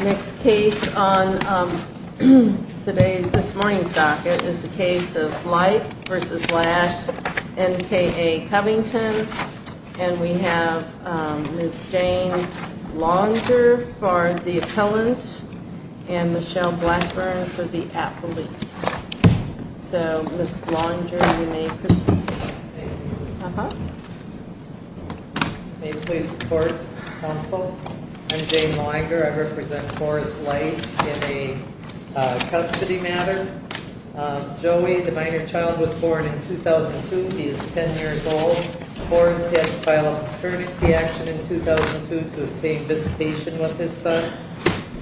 Next case on today's, this morning's docket is the case of Lipe v. Lash, N.K.A. Covington, and we have Ms. Jane Longer for the appellant and Michelle Blackburn for the appellate. So, Ms. Longer, you may proceed. Uh-huh. May it please the court, counsel. I'm Jane Longer. I represent Forrest Lipe in a custody matter. Joey, the minor child, was born in 2002. He is 10 years old. Forrest had to file a paternity action in 2002 to obtain visitation with his son.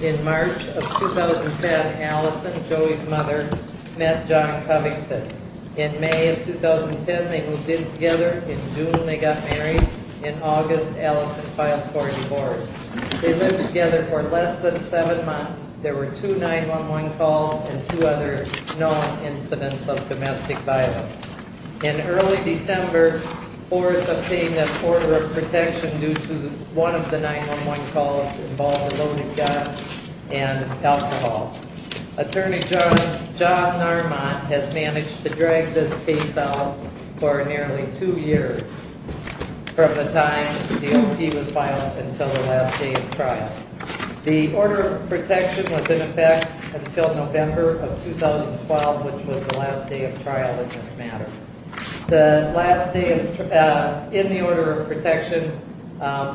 In March of 2010, Allison, Joey's mother, met John Covington. In May of 2010, they moved in together. In June, they got married. In August, Allison filed for a divorce. They lived together for less than seven months. There were two 911 calls and two other known incidents of domestic violence. In early December, Forrest obtained an order of protection due to one of the 911 calls involved a loaded gun and alcohol. Attorney John Narmont has managed to drag this case out for nearly two years from the time he was filed until the last day of trial. The order of protection was in effect until November of 2012, which was the last day of trial in this matter. The last day in the order of protection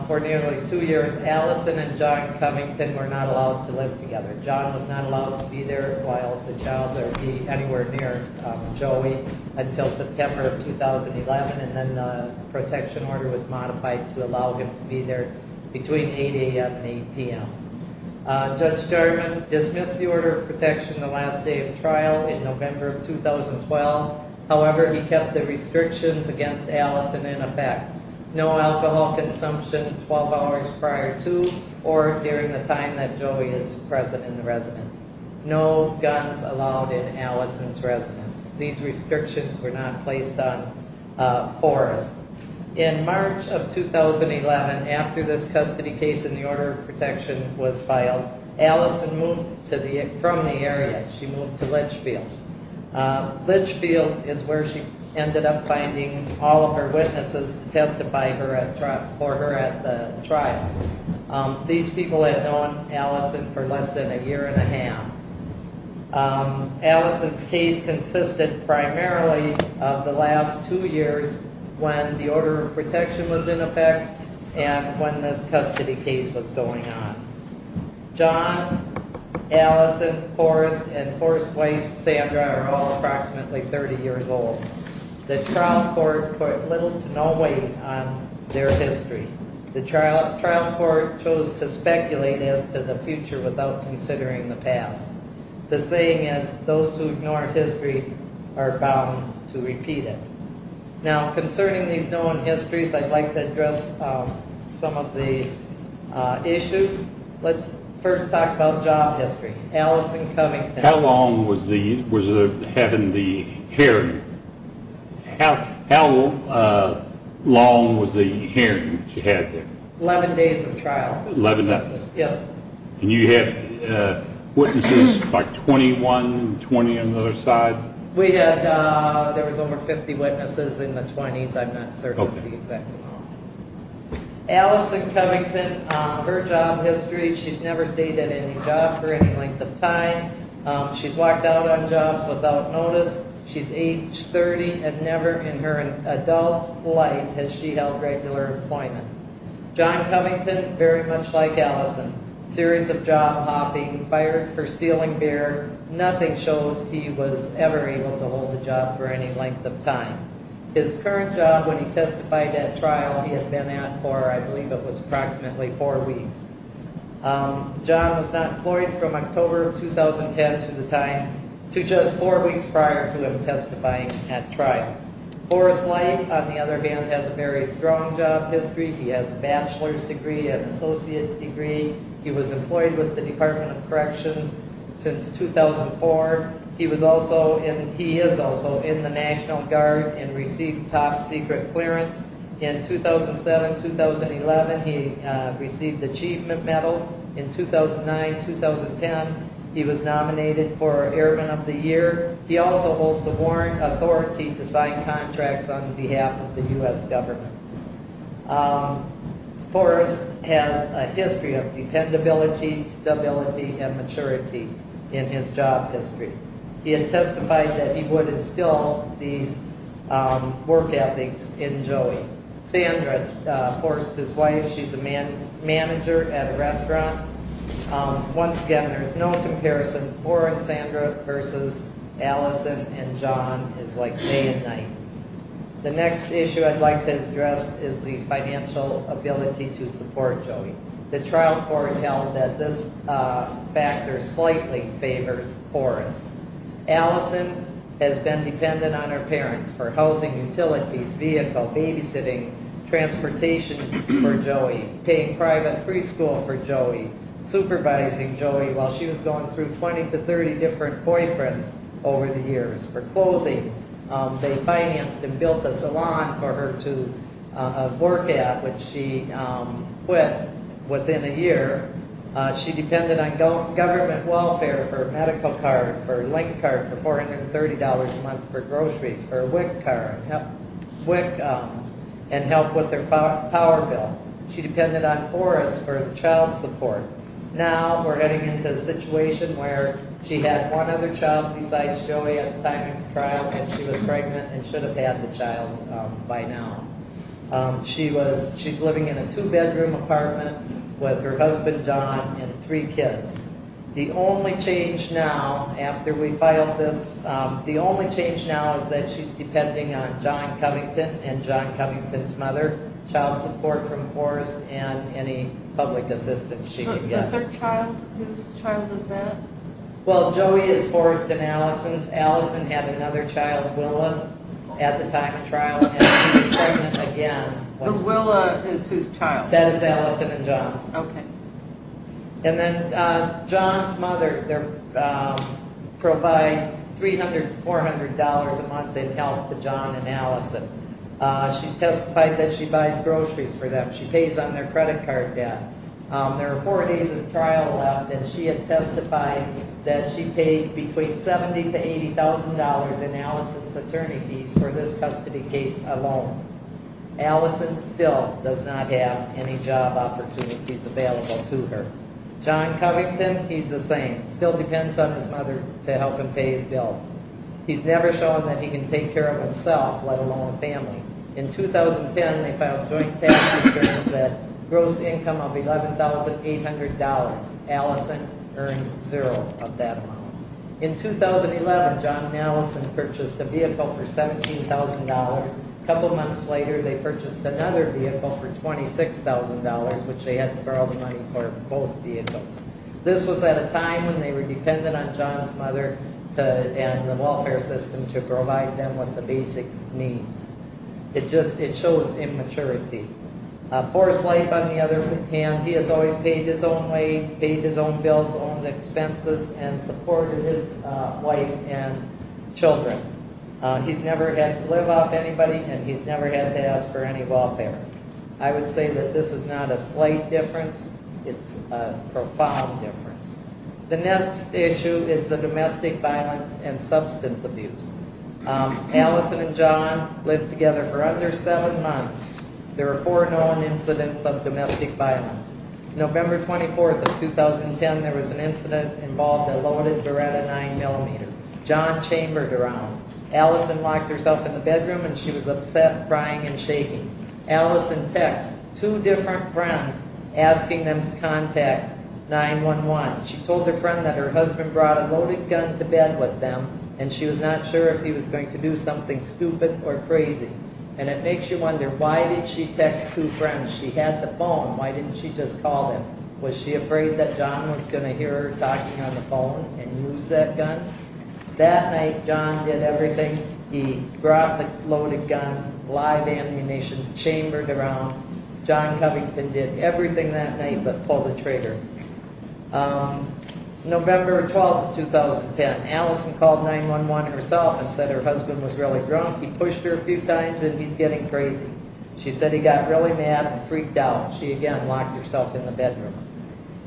for nearly two years, Allison and John Covington were not allowed to live together. John was not allowed to be there while the child or be anywhere near Joey until September of 2011, and then the protection order was modified to allow him to be there between 8 a.m. and 8 p.m. Judge Jarman dismissed the order of protection the last day of trial in November of 2012. However, he kept the restrictions against Allison in effect. No alcohol consumption 12 hours prior to or during the time that Joey is present in the residence. No guns allowed in Allison's residence. These restrictions were not placed on Forrest. In March of 2011, after this custody case in the order of protection was filed, Allison moved from the area. She moved to Litchfield. Litchfield is where she ended up finding all of her witnesses to testify for her at the trial. These people had known Allison for less than a year and a half. Allison's case consisted primarily of the last two years when the order of protection was in effect and when this custody case was going on. John, Allison, Forrest, and Forrest's wife Sandra are all approximately 30 years old. The trial court put little to no weight on their history. The trial court chose to speculate as to the future without considering the past. The saying is, those who ignore history are bound to repeat it. Now, concerning these known histories, I'd like to address some of the issues. Let's first talk about job history. Allison Covington. How long was having the hearing? How long was the hearing that you had there? 11 days of trial. And you had witnesses by 21 and 20 on the other side? We had over 50 witnesses in the 20s. I'm not certain of the exact amount. Allison Covington, her job history, she's never stayed at any job for any length of time. She's walked out on jobs without notice. She's age 30 and never in her adult life has she held regular employment. John Covington, very much like Allison, series of job hopping, fired for stealing beer, nothing shows he was ever able to hold a job for any length of time. His current job when he testified at trial he had been at for, I believe it was approximately 4 weeks. John was not employed from October of 2010 to the time, to just 4 weeks prior to him testifying at trial. Forrest Light, on the other hand, has a very strong job history. He has a bachelor's degree, an associate degree. He was employed with the Department of Corrections since 2004. He is also in the National Guard and received top secret clearance in 2007-2011. He received achievement medals in 2009-2010. He was nominated for Airman of the Year. He also holds a warrant authority to sign contracts on behalf of the U.S. government. Forrest has a history of dependability, stability, and maturity in his job history. He has testified that he would instill these work ethics in Joey. Sandra, Forrest's wife, she's a manager at a restaurant. Once again, there's no comparison. Forrest, Sandra versus Allison and John is like day and night. The next issue I'd like to address is the financial ability to support Joey. The trial foretold that this factor slightly favors Forrest. Allison has been dependent on her parents for housing, utilities, vehicle, babysitting, transportation for Joey, paying private preschool for Joey, supervising Joey while she was going through 20-30 different boyfriends over the years. For clothing, they financed and built a salon for her to work at, which she quit within a year. She depended on government welfare for a medical card, for a length card, for $430 a month for groceries, for a WIC card, WIC and help with her power bill. She depended on Forrest for child support. Now we're heading into a situation where she had one other child besides Joey at the time of the trial and she was pregnant and should have had the child by now. She's living in a two-bedroom apartment with her husband, John, and three kids. The only change now, after we filed this, the only change now is that she's depending on John Covington and John Covington's mother, child support from Forrest, and any public assistance she can get. Is there a child? Whose child is that? Well, Joey is Forrest and Allison's. Allison had another child, Willa, at the time of the trial and she's pregnant again. The Willa is whose child? That is Allison and John's. And then John's mother provides $300 to $400 a month in help to John and Allison. She testified that she buys groceries for them. She pays on their credit card debt. There are four days of trial left and she had testified that she paid between $70,000 to $80,000 in Allison's attorney fees for this custody case alone. Allison still does not have any job opportunities available to her. John Covington, he's the same. Still depends on his mother to help him pay his bill. He's never shown that he can take care of himself, let alone the family. In 2010, they filed joint tax returns at gross income of $11,800. Allison earned zero of that amount. In 2011, John and Allison purchased a vehicle for $17,000. A couple months later, they purchased another vehicle for $26,000, which they had to borrow the money for both vehicles. This was at a time when they were dependent on John's mother and the welfare system to provide them with the basic needs. It just, it shows immaturity. Forest Life, on the other hand, he has always paid his own way, paid his own bills, his own expenses, and supported his wife and children. He's never had to live off anybody and he's never had to ask for any welfare. I would say that this is not a slight difference, it's a profound difference. The next issue is the domestic violence and substance abuse. Allison and John lived together for under seven months. There were four known incidents of domestic violence. November 24th of 2010, there was an incident involving a loaded Beretta 9mm. John chambered around. Allison locked herself in the bedroom and she was upset, crying, and shaking. Allison texts two different friends asking them to contact 911. She told her friend that her husband brought a loaded gun to bed with them and she was not sure if he was going to do something stupid or crazy. And it makes you wonder, why did she text two friends? She had the phone, why didn't she just call him? Was she afraid that John was going to hear her talking on the phone and use that gun? That night, John did everything. He brought the loaded gun, live ammunition, chambered around. John Covington did everything that night but pulled the trigger. November 12th of 2010, Allison called 911 herself and said her husband was really drunk. He pushed her a few times and he's getting crazy. She said he got really mad and freaked out. She again locked herself in the bedroom.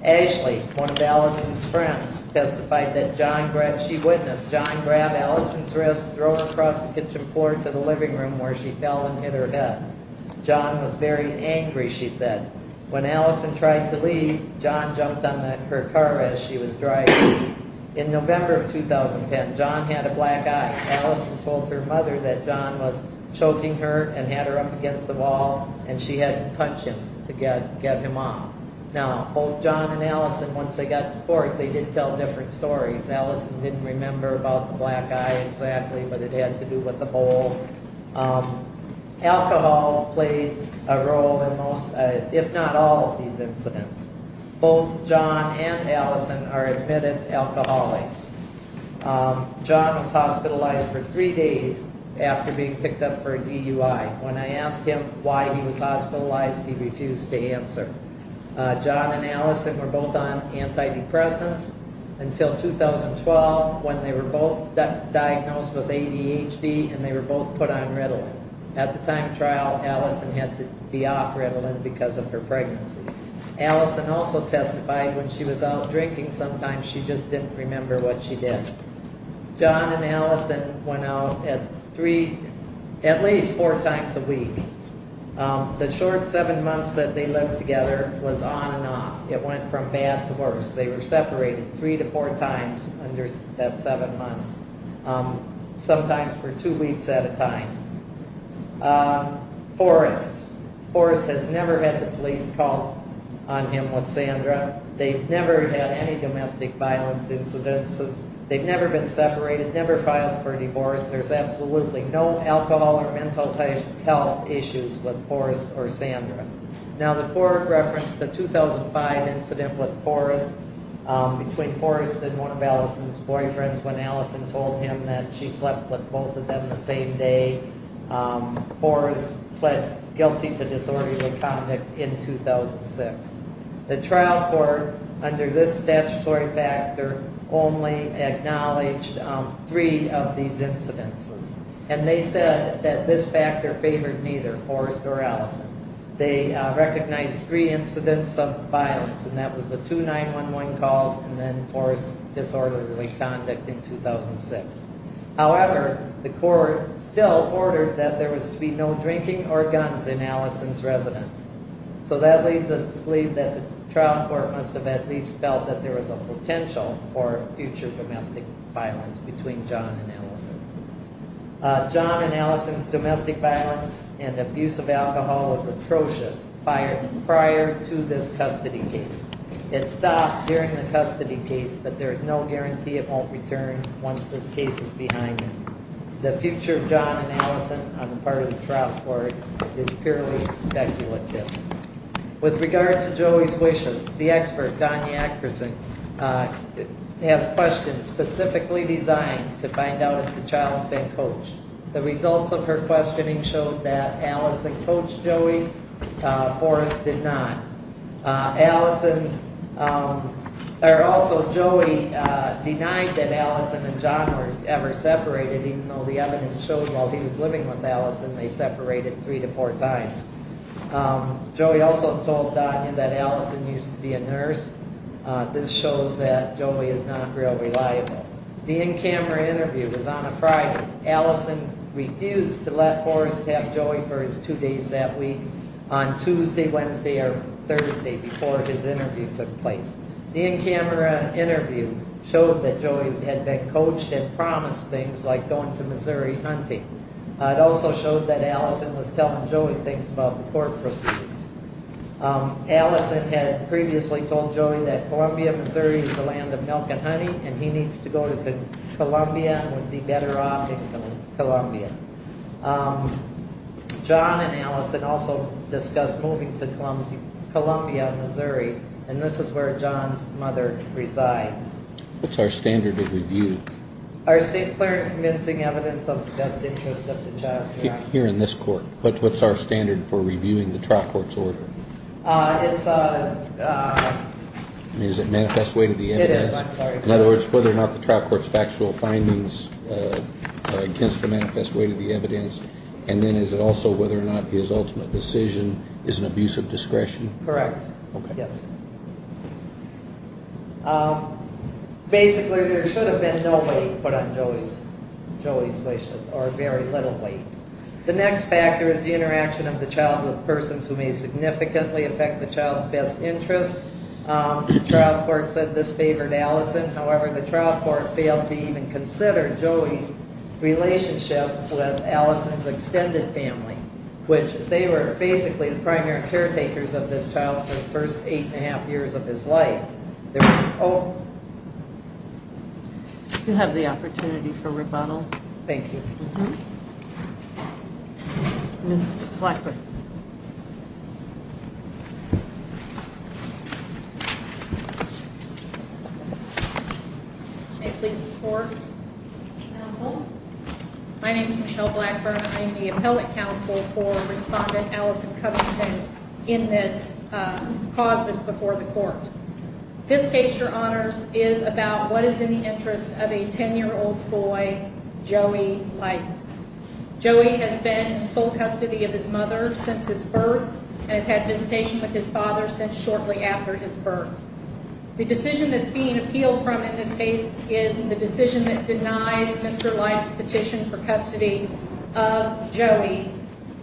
Ashley, one of Allison's friends, testified that she witnessed John grab Allison's wrist, throw it across the kitchen floor to the living room where she fell and hit her head. John was very angry, she said. When Allison tried to leave, John jumped on her car as she was driving. In November of 2010, John had a black eye. Allison told her mother that John was choking her and had her up against the wall and she had to punch him to get him off. Both John and Allison, once they got to court, they did tell different stories. Allison didn't remember about the black eye exactly but it had to do with the bowl. Alcohol played a role in most, if not all of these incidents. Both John and Allison are admitted alcoholics. John was hospitalized for three days after being picked up for a DUI. When I asked him why he was hospitalized, he refused to answer. John and Allison were both on antidepressants until 2012 when they were both diagnosed with ADHD and they were both put on Ritalin. At the time of trial, Allison had to be off Ritalin because of her pregnancy. Allison also testified when she was out drinking sometimes, she just didn't remember what she did. John and Allison went out at least four times a week. The short seven months that they lived together was on and off. It went from bad to worse. They were separated three to four times under that seven months, sometimes for two weeks at a time. Forrest, Forrest has never had the police call on him with Sandra. They've never had any domestic violence incidents. They've never been separated, never filed for a divorce. There's absolutely no alcohol or mental health issues with Forrest or Sandra. Now the court referenced the 2005 incident with Forrest between Forrest and one of Allison's boyfriends when Allison told him that she slept with both of them the same day. Forrest pled guilty to disorderly conduct in 2006. The trial court under this statutory factor only acknowledged three of these incidences and they said that this factor favored neither Forrest or Allison. They recognized three incidents of violence and that was the 2911 calls and then Forrest's disorderly conduct in 2006. However, the court still ordered that there was to be no drinking or guns in Allison's residence. So that leads us to believe that the trial court must have at least felt that there was a potential for future domestic violence between John and Allison. Allison's domestic violence and abuse of alcohol was atrocious prior to this custody case. It stopped during the custody case, but there's no guarantee it won't return once this case is behind it. The future of John and Allison on the part of the trial court is purely speculative. With regard to Joey's wishes, the expert, Donna Akerson, has questions specifically designed to find out if the child's been coached. The results of her questioning showed that Allison coached Joey, Forrest did not. Also, Joey denied that Allison and John were ever separated, even though the evidence showed while he was living with Allison they separated three to four times. Joey also told Donna that Allison used to be a nurse. This shows that Joey is not real reliable. The in-camera interview was on a Friday. Allison refused to let Forrest have Joey for his two days that week on Tuesday, Wednesday, or Thursday before his interview took place. The in-camera interview showed that Joey had been coached and promised things like going to Missouri hunting. It also showed that Allison was telling Joey things about the court proceedings. Allison had previously told Joey that Columbia, Missouri is the land of milk and honey and he needs to go to Columbia and would be better off in Columbia. John and Allison also discussed moving to Columbia, Missouri and this is where John's mother resides. What's our standard of review? Our state clerk convincing evidence of the best interest of the child. Here in this court, what's our standard for reviewing the trial court's order? It's a... Is it manifest way to the evidence? It is, I'm sorry. In other words, whether or not the trial court's factual findings against the manifest way to the evidence and then is it also whether or not his ultimate decision is an abuse of discretion? Correct. Okay. Yes. Basically, there should have been no weight put on Joey's wishes or very little weight. The next factor is the interaction of the child with persons who may significantly affect the child's best interest. The trial court said this favored Allison. However, the trial court failed to even consider Joey's relationship with Allison's extended family, which they were basically the primary caretakers of this child for the first eight and a half years of his life. You have the opportunity for rebuttal. Thank you. Mm-hmm. Ms. Blackburn. May it please the court. Counsel. My name is Michelle Blackburn. I'm the appellate counsel for respondent Allison Covington in this cause that's before the court. This case, Your Honors, is about what is in the interest of a 10-year-old boy, Joey Lighton. Joey has been in sole custody of his mother since his birth and has had visitation with his father since shortly after his birth. The decision that's being appealed from in this case is the decision that denies Mr. Lighton's petition for custody of Joey.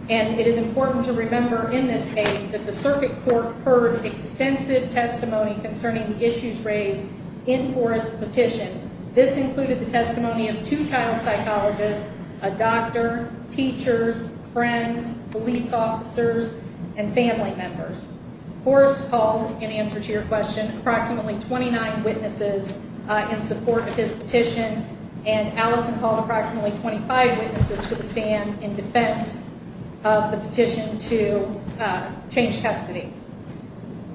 And it is important to remember in this case that the circuit court heard extensive testimony concerning the issues raised in Forrest's petition. This included the testimony of two child psychologists, a doctor, teachers, friends, police officers, and family members. Forrest called, in answer to your question, approximately 29 witnesses in support of his petition, and Allison called approximately 25 witnesses to stand in defense of the petition to change custody.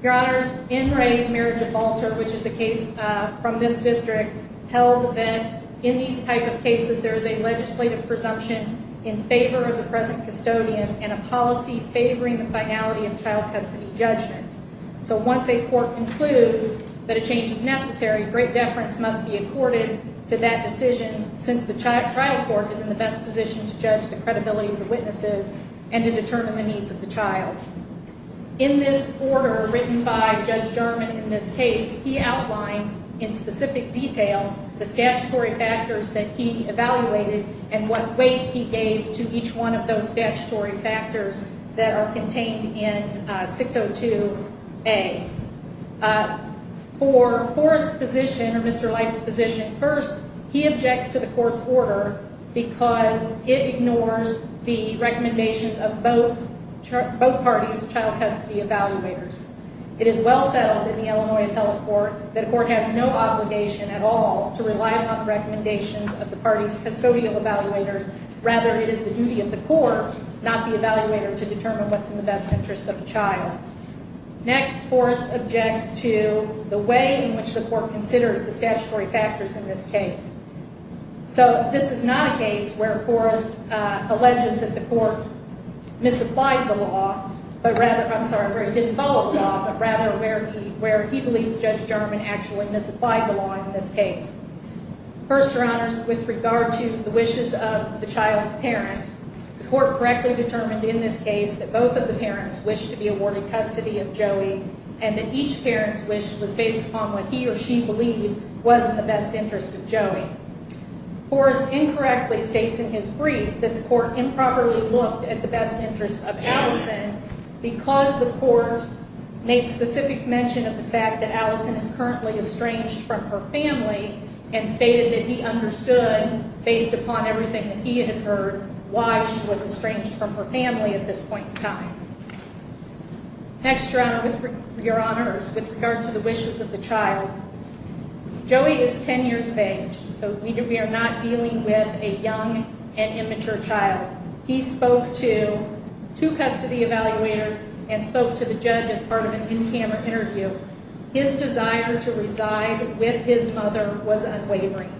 Your Honors, in Ray and Mary Gibalter, which is a case from this district, held that in these type of cases there is a legislative presumption in favor of the present custodian and a policy favoring the finality of child custody judgments. So once a court concludes that a change is necessary, great deference must be accorded to that decision since the trial court is in the best position to judge the credibility of the witnesses and to determine the needs of the child. In this order written by Judge German in this case, he outlined in specific detail the statutory factors that he evaluated and what weight he gave to each one of those statutory factors that are contained in 602A. For Forrest's position, or Mr. Lighton's position, first he objects to the court's order because it ignores the recommendations of both parties' child custody evaluators. It is well settled in the Illinois Appellate Court that a court has no obligation at all to rely upon the recommendations of the parties' custodial evaluators. Rather, it is the duty of the court, not the evaluator, to determine what's in the best interest of the child. Next, Forrest objects to the way in which the court considered the statutory factors in this case. So this is not a case where Forrest alleges that the court misapplied the law, but rather, I'm sorry, where it didn't follow the law, but rather where he believes Judge German actually misapplied the law in this case. First, Your Honors, with regard to the wishes of the child's parent, the court correctly determined in this case that both of the parents wished to be awarded custody of Joey and that each parent's wish was based upon what he or she believed was in the best interest of Joey. Forrest incorrectly states in his brief that the court improperly looked at the best interest of Allison because the court made specific mention of the fact that Allison is currently estranged from her family and stated that he understood, based upon everything that he had heard, why she was estranged from her family at this point in time. Next, Your Honors, with regard to the wishes of the child, Joey is 10 years of age, so we are not dealing with a young and immature child. He spoke to two custody evaluators and spoke to the judge as part of an in-camera interview. His desire to reside with his mother was unwavering.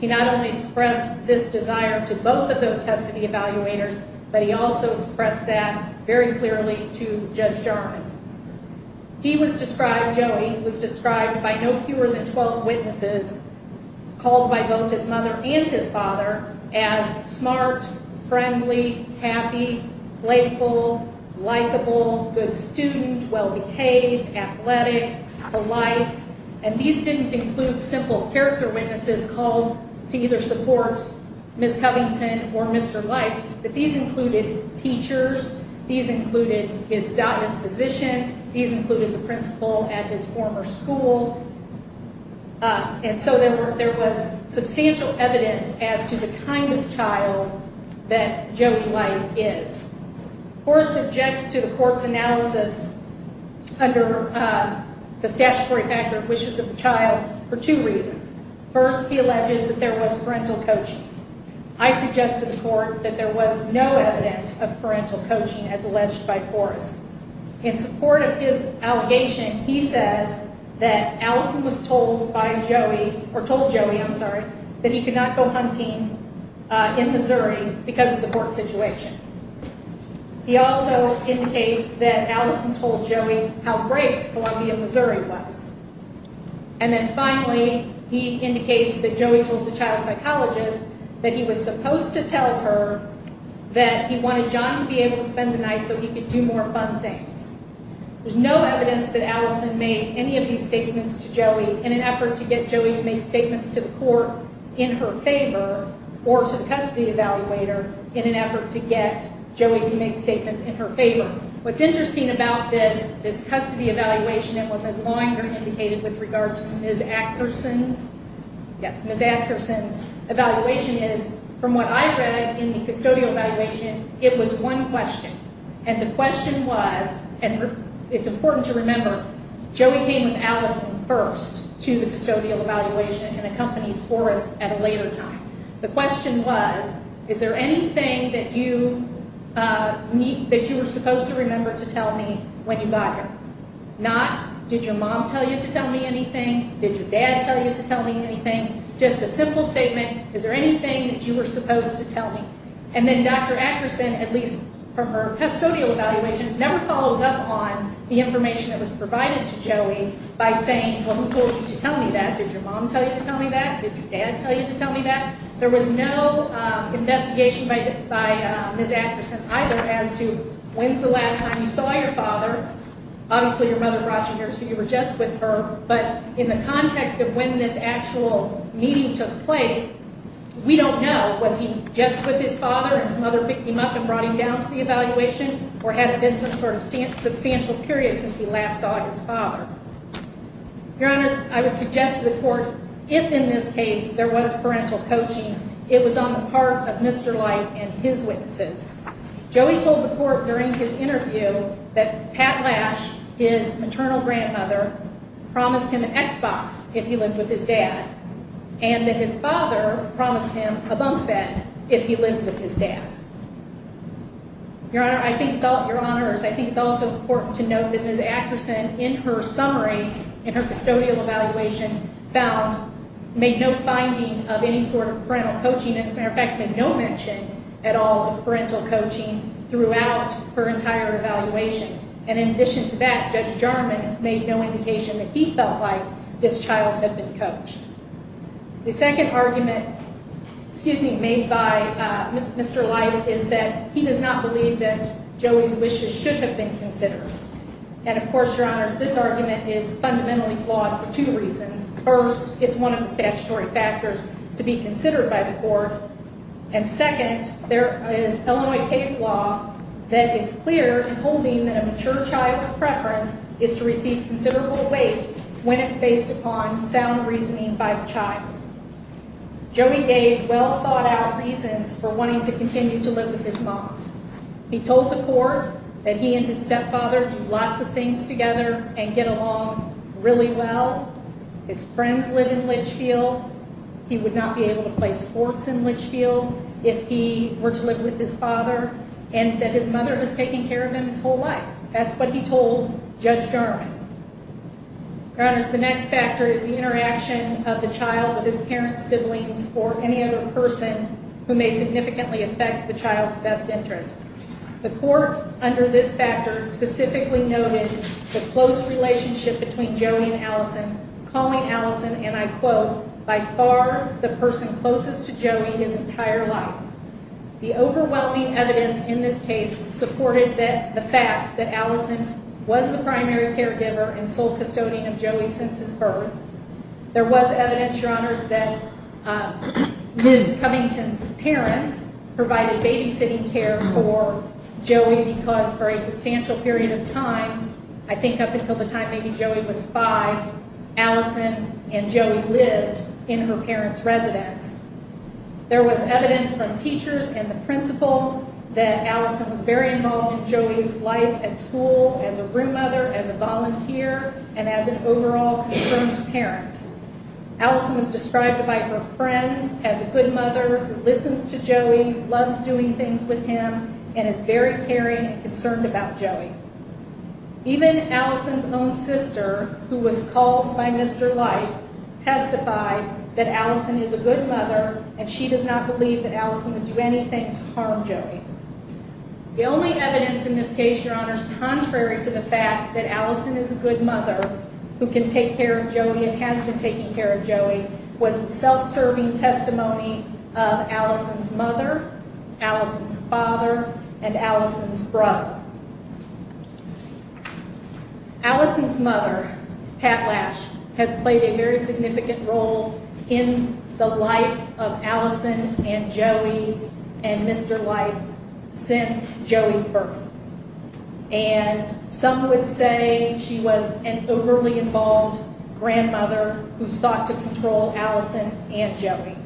He not only expressed this desire to both of those custody evaluators, but he also expressed that very clearly to Judge Jarman. He was described, Joey, was described by no fewer than 12 witnesses, called by both his mother and his father as smart, friendly, happy, playful, likable, good student, well-behaved, athletic, polite, and these didn't include simple character witnesses called to either support Ms. Covington or Mr. Light, but these included teachers, these included his diocesan physician, these included the principal at his former school, and so there was substantial evidence as to the kind of child that Joey Light is. The court subjects to the court's analysis under the statutory factor of wishes of the child for two reasons. First, he alleges that there was parental coaching. I suggest to the court that there was no evidence of parental coaching as alleged by Forrest. In support of his allegation, he says that Allison was told by Joey, or told Joey, I'm sorry, that he could not go hunting in Missouri because of the court situation. He also indicates that Allison told Joey how great Columbia, Missouri was. And then finally, he indicates that Joey told the child psychologist that he was supposed to tell her that he wanted John to be able to spend the night so he could do more fun things. There's no evidence that Allison made any of these statements to Joey in an effort to get Joey to make statements to the court in her favor or to the custody evaluator in an effort to get Joey to make statements in her favor. Finally, what's interesting about this custody evaluation and what Ms. Longer indicated with regard to Ms. Atkerson's evaluation is, from what I read in the custodial evaluation, it was one question. And the question was, and it's important to remember, Joey came with Allison first to the custodial evaluation and accompanied Forrest at a later time. The question was, is there anything that you were supposed to remember to tell me when you got here? Not, did your mom tell you to tell me anything? Did your dad tell you to tell me anything? Just a simple statement, is there anything that you were supposed to tell me? And then Dr. Atkerson, at least from her custodial evaluation, never follows up on the information that was provided to Joey by saying, well, who told you to tell me that? Did your mom tell you to tell me that? Did your dad tell you to tell me that? There was no investigation by Ms. Atkerson either as to when's the last time you saw your father. Obviously, your mother brought you here, so you were just with her. But in the context of when this actual meeting took place, we don't know. Was he just with his father and his mother picked him up and brought him down to the evaluation? Or had it been some sort of substantial period since he last saw his father? Your Honor, I would suggest to the court, if in this case there was parental coaching, it was on the part of Mr. Light and his witnesses. Joey told the court during his interview that Pat Lash, his maternal grandmother, promised him an Xbox if he lived with his dad, and that his father promised him a bunk bed if he lived with his dad. Your Honor, I think it's also important to note that Ms. Atkerson, in her summary, in her custodial evaluation, made no finding of any sort of parental coaching. As a matter of fact, made no mention at all of parental coaching throughout her entire evaluation. And in addition to that, Judge Jarman made no indication that he felt like this child had been coached. The second argument made by Mr. Light is that he does not believe that Joey's wishes should have been considered. And of course, Your Honor, this argument is fundamentally flawed for two reasons. First, it's one of the statutory factors to be considered by the court. And second, there is Illinois case law that is clear in holding that a mature child's preference is to receive considerable weight when it's based upon sound reasoning by the child. Joey gave well-thought-out reasons for wanting to continue to live with his mom. He told the court that he and his stepfather do lots of things together and get along really well. His friends live in Litchfield. He would not be able to play sports in Litchfield if he were to live with his father. And that his mother was taking care of him his whole life. That's what he told Judge Jarman. Your Honors, the next factor is the interaction of the child with his parents, siblings, or any other person who may significantly affect the child's best interest. The court, under this factor, specifically noted the close relationship between Joey and Allison, calling Allison, and I quote, by far the person closest to Joey his entire life. The overwhelming evidence in this case supported the fact that Allison was the primary caregiver and sole custodian of Joey since his birth. There was evidence, Your Honors, that Ms. Covington's parents provided babysitting care for Joey because for a substantial period of time, I think up until the time maybe Joey was five, Allison and Joey lived in her parents' residence. There was evidence from teachers and the principal that Allison was very involved in Joey's life at school as a room mother, as a volunteer, and as an overall concerned parent. Allison was described by her friends as a good mother who listens to Joey, loves doing things with him, and is very caring and concerned about Joey. Even Allison's own sister, who was called by Mr. Light, testified that Allison is a good mother and she does not believe that Allison would do anything to harm Joey. The only evidence in this case, Your Honors, contrary to the fact that Allison is a good mother who can take care of Joey and has been taking care of Joey, was self-serving testimony of Allison's mother, Allison's father, and Allison's brother. Allison's mother, Pat Lash, has played a very significant role in the life of Allison and Joey and Mr. Light since Joey's birth. And some would say she was an overly involved grandmother who sought to control Allison and Joey.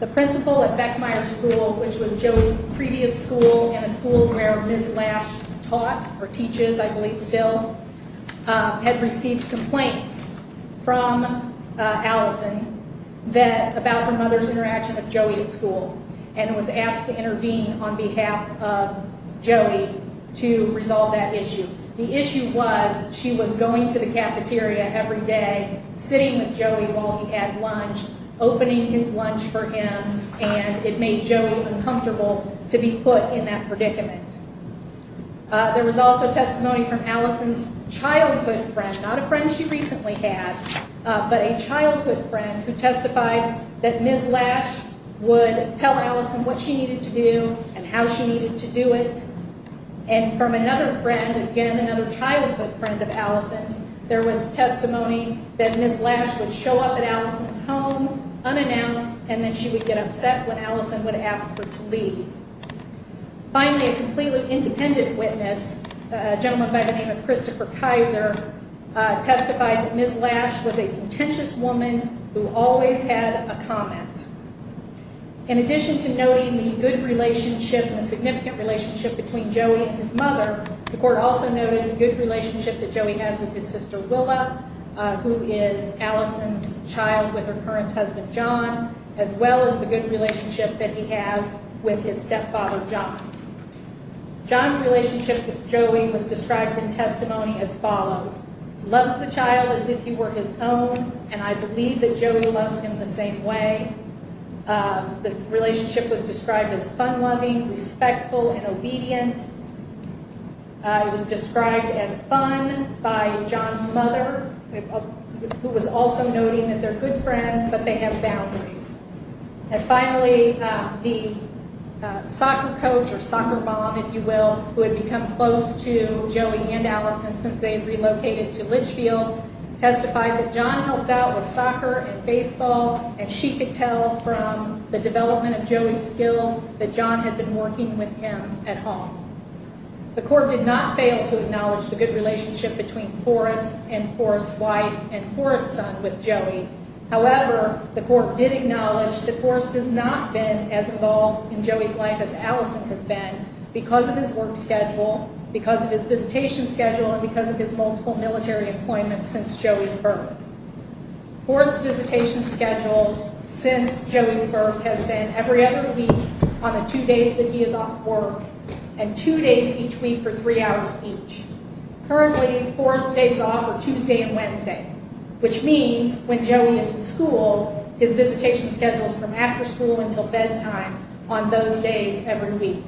The principal at Beckmeyer School, which was Joey's previous school and a school where Ms. Lash taught or teaches, I believe still, had received complaints from Allison about her mother's interaction with Joey at school and was asked to intervene on behalf of Joey to resolve that issue. The issue was she was going to the cafeteria every day, sitting with Joey while he had lunch, opening his lunch for him, and it made Joey uncomfortable to be put in that predicament. There was also testimony from Allison's childhood friend, not a friend she recently had, but a childhood friend who testified that Ms. Lash would tell Allison what she needed to do and how she needed to do it. And from another friend, again another childhood friend of Allison's, there was testimony that Ms. Lash would show up at Allison's home unannounced and that she would get upset when Allison would ask her to leave. Finally, a completely independent witness, a gentleman by the name of Christopher Kaiser, testified that Ms. Lash was a contentious woman who always had a comment. In addition to noting the good relationship and the significant relationship between Joey and his mother, the court also noted the good relationship that Joey has with his sister, Willa, who is Allison's child with her current husband, John, as well as the good relationship that he has with his stepfather, John. John's relationship with Joey was described in testimony as follows. He loves the child as if he were his own, and I believe that Joey loves him the same way. The relationship was described as fun-loving, respectful, and obedient. It was described as fun by John's mother, who was also noting that they're good friends, but they have boundaries. And finally, the soccer coach, or soccer mom, if you will, who had become close to Joey and Allison since they had relocated to Litchfield, testified that John helped out with soccer and baseball, and she could tell from the development of Joey's skills that John had been working with him at home. The court did not fail to acknowledge the good relationship between Forrest and Forrest's wife and Forrest's son with Joey. However, the court did acknowledge that Forrest has not been as involved in Joey's life as Allison has been because of his work schedule, because of his visitation schedule, and because of his multiple military employments since Joey's birth. Forrest's visitation schedule since Joey's birth has been every other week on the two days that he is off work, and two days each week for three hours each. Currently, Forrest's days off are Tuesday and Wednesday, which means when Joey is in school, his visitation schedule is from after school until bedtime on those days every week.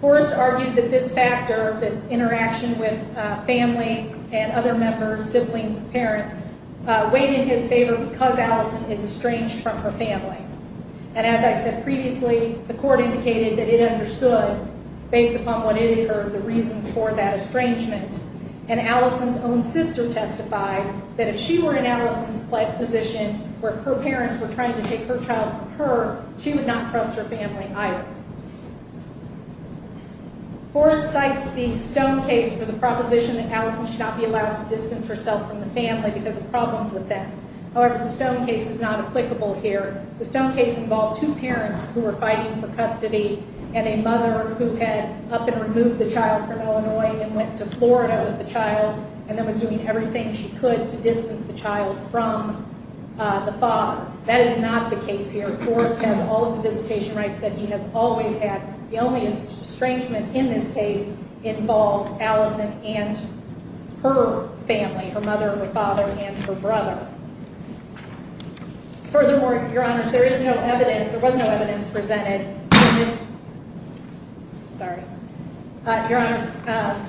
Forrest argued that this factor, this interaction with family and other members, siblings and parents, weighed in his favor because Allison is estranged from her family. And as I said previously, the court indicated that it understood, based upon what it had heard, the reasons for that estrangement. And Allison's own sister testified that if she were in Allison's position, or if her parents were trying to take her child from her, she would not trust her family either. Forrest cites the Stone case for the proposition that Allison should not be allowed to distance herself from the family because of problems with that. However, the Stone case is not applicable here. The Stone case involved two parents who were fighting for custody and a mother who had up and removed the child from Illinois and went to Florida with the child and then was doing everything she could to distance the child from the father. That is not the case here. Forrest has all of the visitation rights that he has always had. The only estrangement in this case involves Allison and her family, her mother, her father, and her brother. Furthermore, Your Honor, there is no evidence, there was no evidence presented. Your Honor,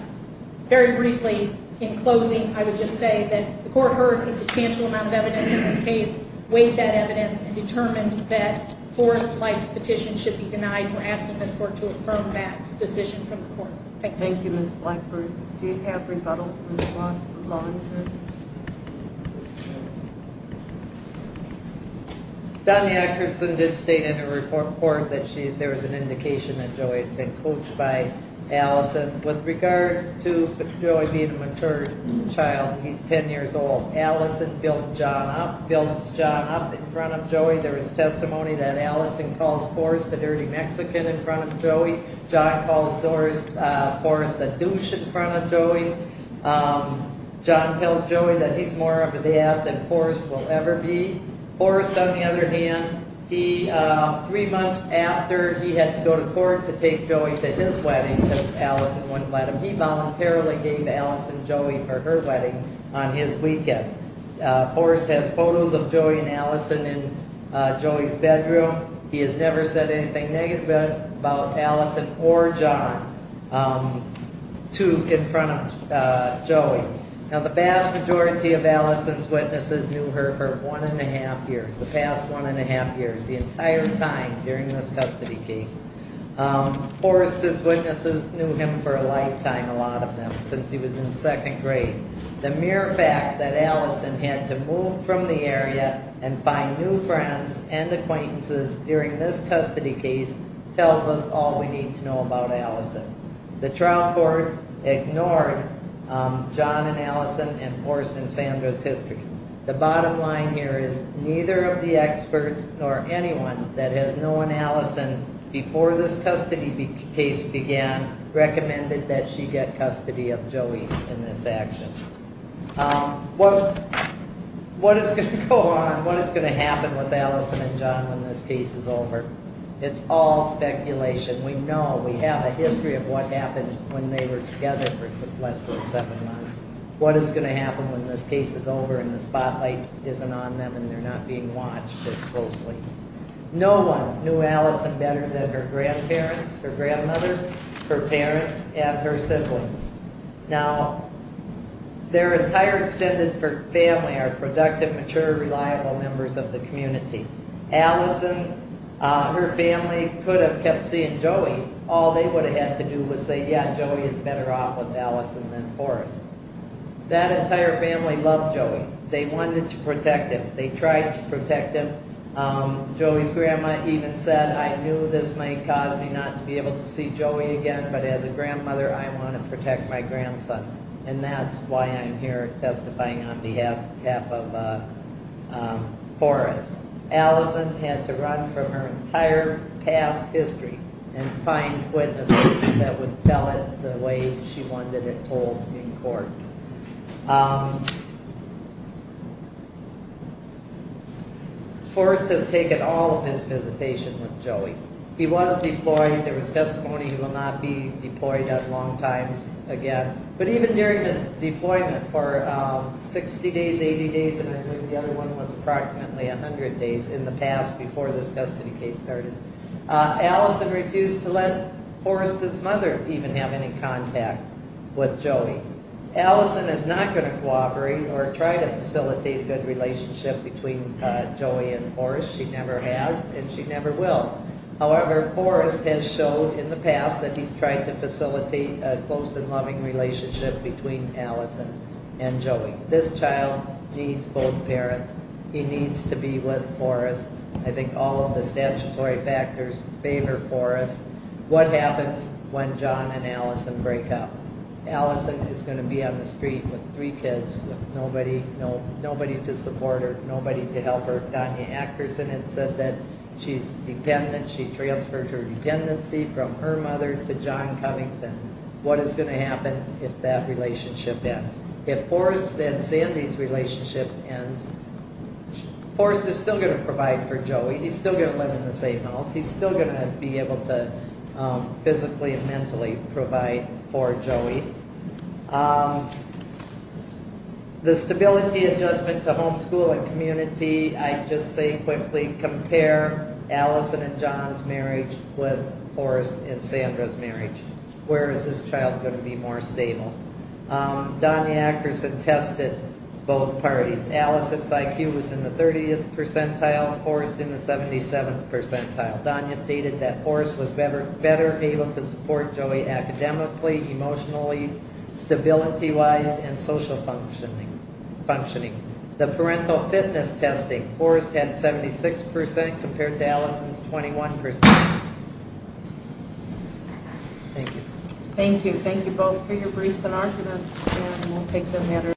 very briefly, in closing, I would just say that the court heard a substantial amount of evidence in this case, weighed that evidence, and determined that Forrest Light's petition should be denied. We're asking this court to affirm that decision from the court. Thank you. Thank you, Ms. Blackburn. Do you have rebuttal, Ms. Blackburn? Donna Akerson did state in her report that there was an indication that Joey had been coached by Allison. With regard to Joey being a mature child, he's 10 years old, Allison builds John up in front of Joey. There is testimony that Allison calls Forrest a dirty Mexican in front of Joey. John calls Forrest a douche in front of Joey. John tells Joey that he's more of a dad than Forrest will ever be. Forrest, on the other hand, three months after he had to go to court to take Joey to his wedding, because Allison wouldn't let him, he voluntarily gave Allison Joey for her wedding on his weekend. Forrest has photos of Joey and Allison in Joey's bedroom. He has never said anything negative about Allison or John in front of Joey. Now, the vast majority of Allison's witnesses knew her for one and a half years, the past one and a half years, the entire time during this custody case. Forrest's witnesses knew him for a lifetime, a lot of them, since he was in second grade. The mere fact that Allison had to move from the area and find new friends and acquaintances during this custody case tells us all we need to know about Allison. The trial court ignored John and Allison and Forrest and Sandra's history. The bottom line here is neither of the experts nor anyone that has known Allison before this custody case began recommended that she get custody of Joey in this action. What is going to go on, what is going to happen with Allison and John when this case is over? It's all speculation. We know, we have a history of what happened when they were together for less than seven months. What is going to happen when this case is over and the spotlight isn't on them and they're not being watched as closely? No one knew Allison better than her grandparents, her grandmother, her parents, and her siblings. Now, their entire extended family are productive, mature, reliable members of the community. Allison, her family could have kept seeing Joey. All they would have had to do was say, yeah, Joey is better off with Allison than Forrest. That entire family loved Joey. They wanted to protect him. They tried to protect him. Joey's grandma even said, I knew this might cause me not to be able to see Joey again, but as a grandmother, I want to protect my grandson. And that's why I'm here testifying on behalf of Forrest. Allison had to run from her entire past history and find witnesses that would tell it the way she wanted it told in court. Forrest has taken all of his visitation with Joey. He was deployed. There was testimony he will not be deployed at long times again. But even during his deployment for 60 days, 80 days, and I believe the other one was approximately 100 days in the past before this custody case started, Allison refused to let Forrest's mother even have any contact with Joey. Allison is not going to cooperate or try to facilitate a good relationship between Joey and Forrest. She never has, and she never will. However, Forrest has showed in the past that he's tried to facilitate a close and loving relationship between Allison and Joey. This child needs both parents. He needs to be with Forrest. I think all of the statutory factors favor Forrest. What happens when John and Allison break up? Allison is going to be on the street with three kids, with nobody to support her, nobody to help her. Donna Akerson had said that she's dependent. She transferred her dependency from her mother to John Covington. What is going to happen if that relationship ends? If Forrest and Sandy's relationship ends, Forrest is still going to provide for Joey. He's still going to live in the same house. He's still going to be able to physically and mentally provide for Joey. The stability adjustment to homeschool and community, I'd just say quickly, compare Allison and John's marriage with Forrest and Sandra's marriage. Where is this child going to be more stable? Donna Akerson tested both parties. Allison's IQ was in the 30th percentile, Forrest's in the 77th percentile. Donna stated that Forrest was better able to support Joey academically, emotionally, stability-wise, and social functioning. The parental fitness testing, Forrest had 76% compared to Allison's 21%. Thank you. Thank you. Thank you both for your briefs and arguments.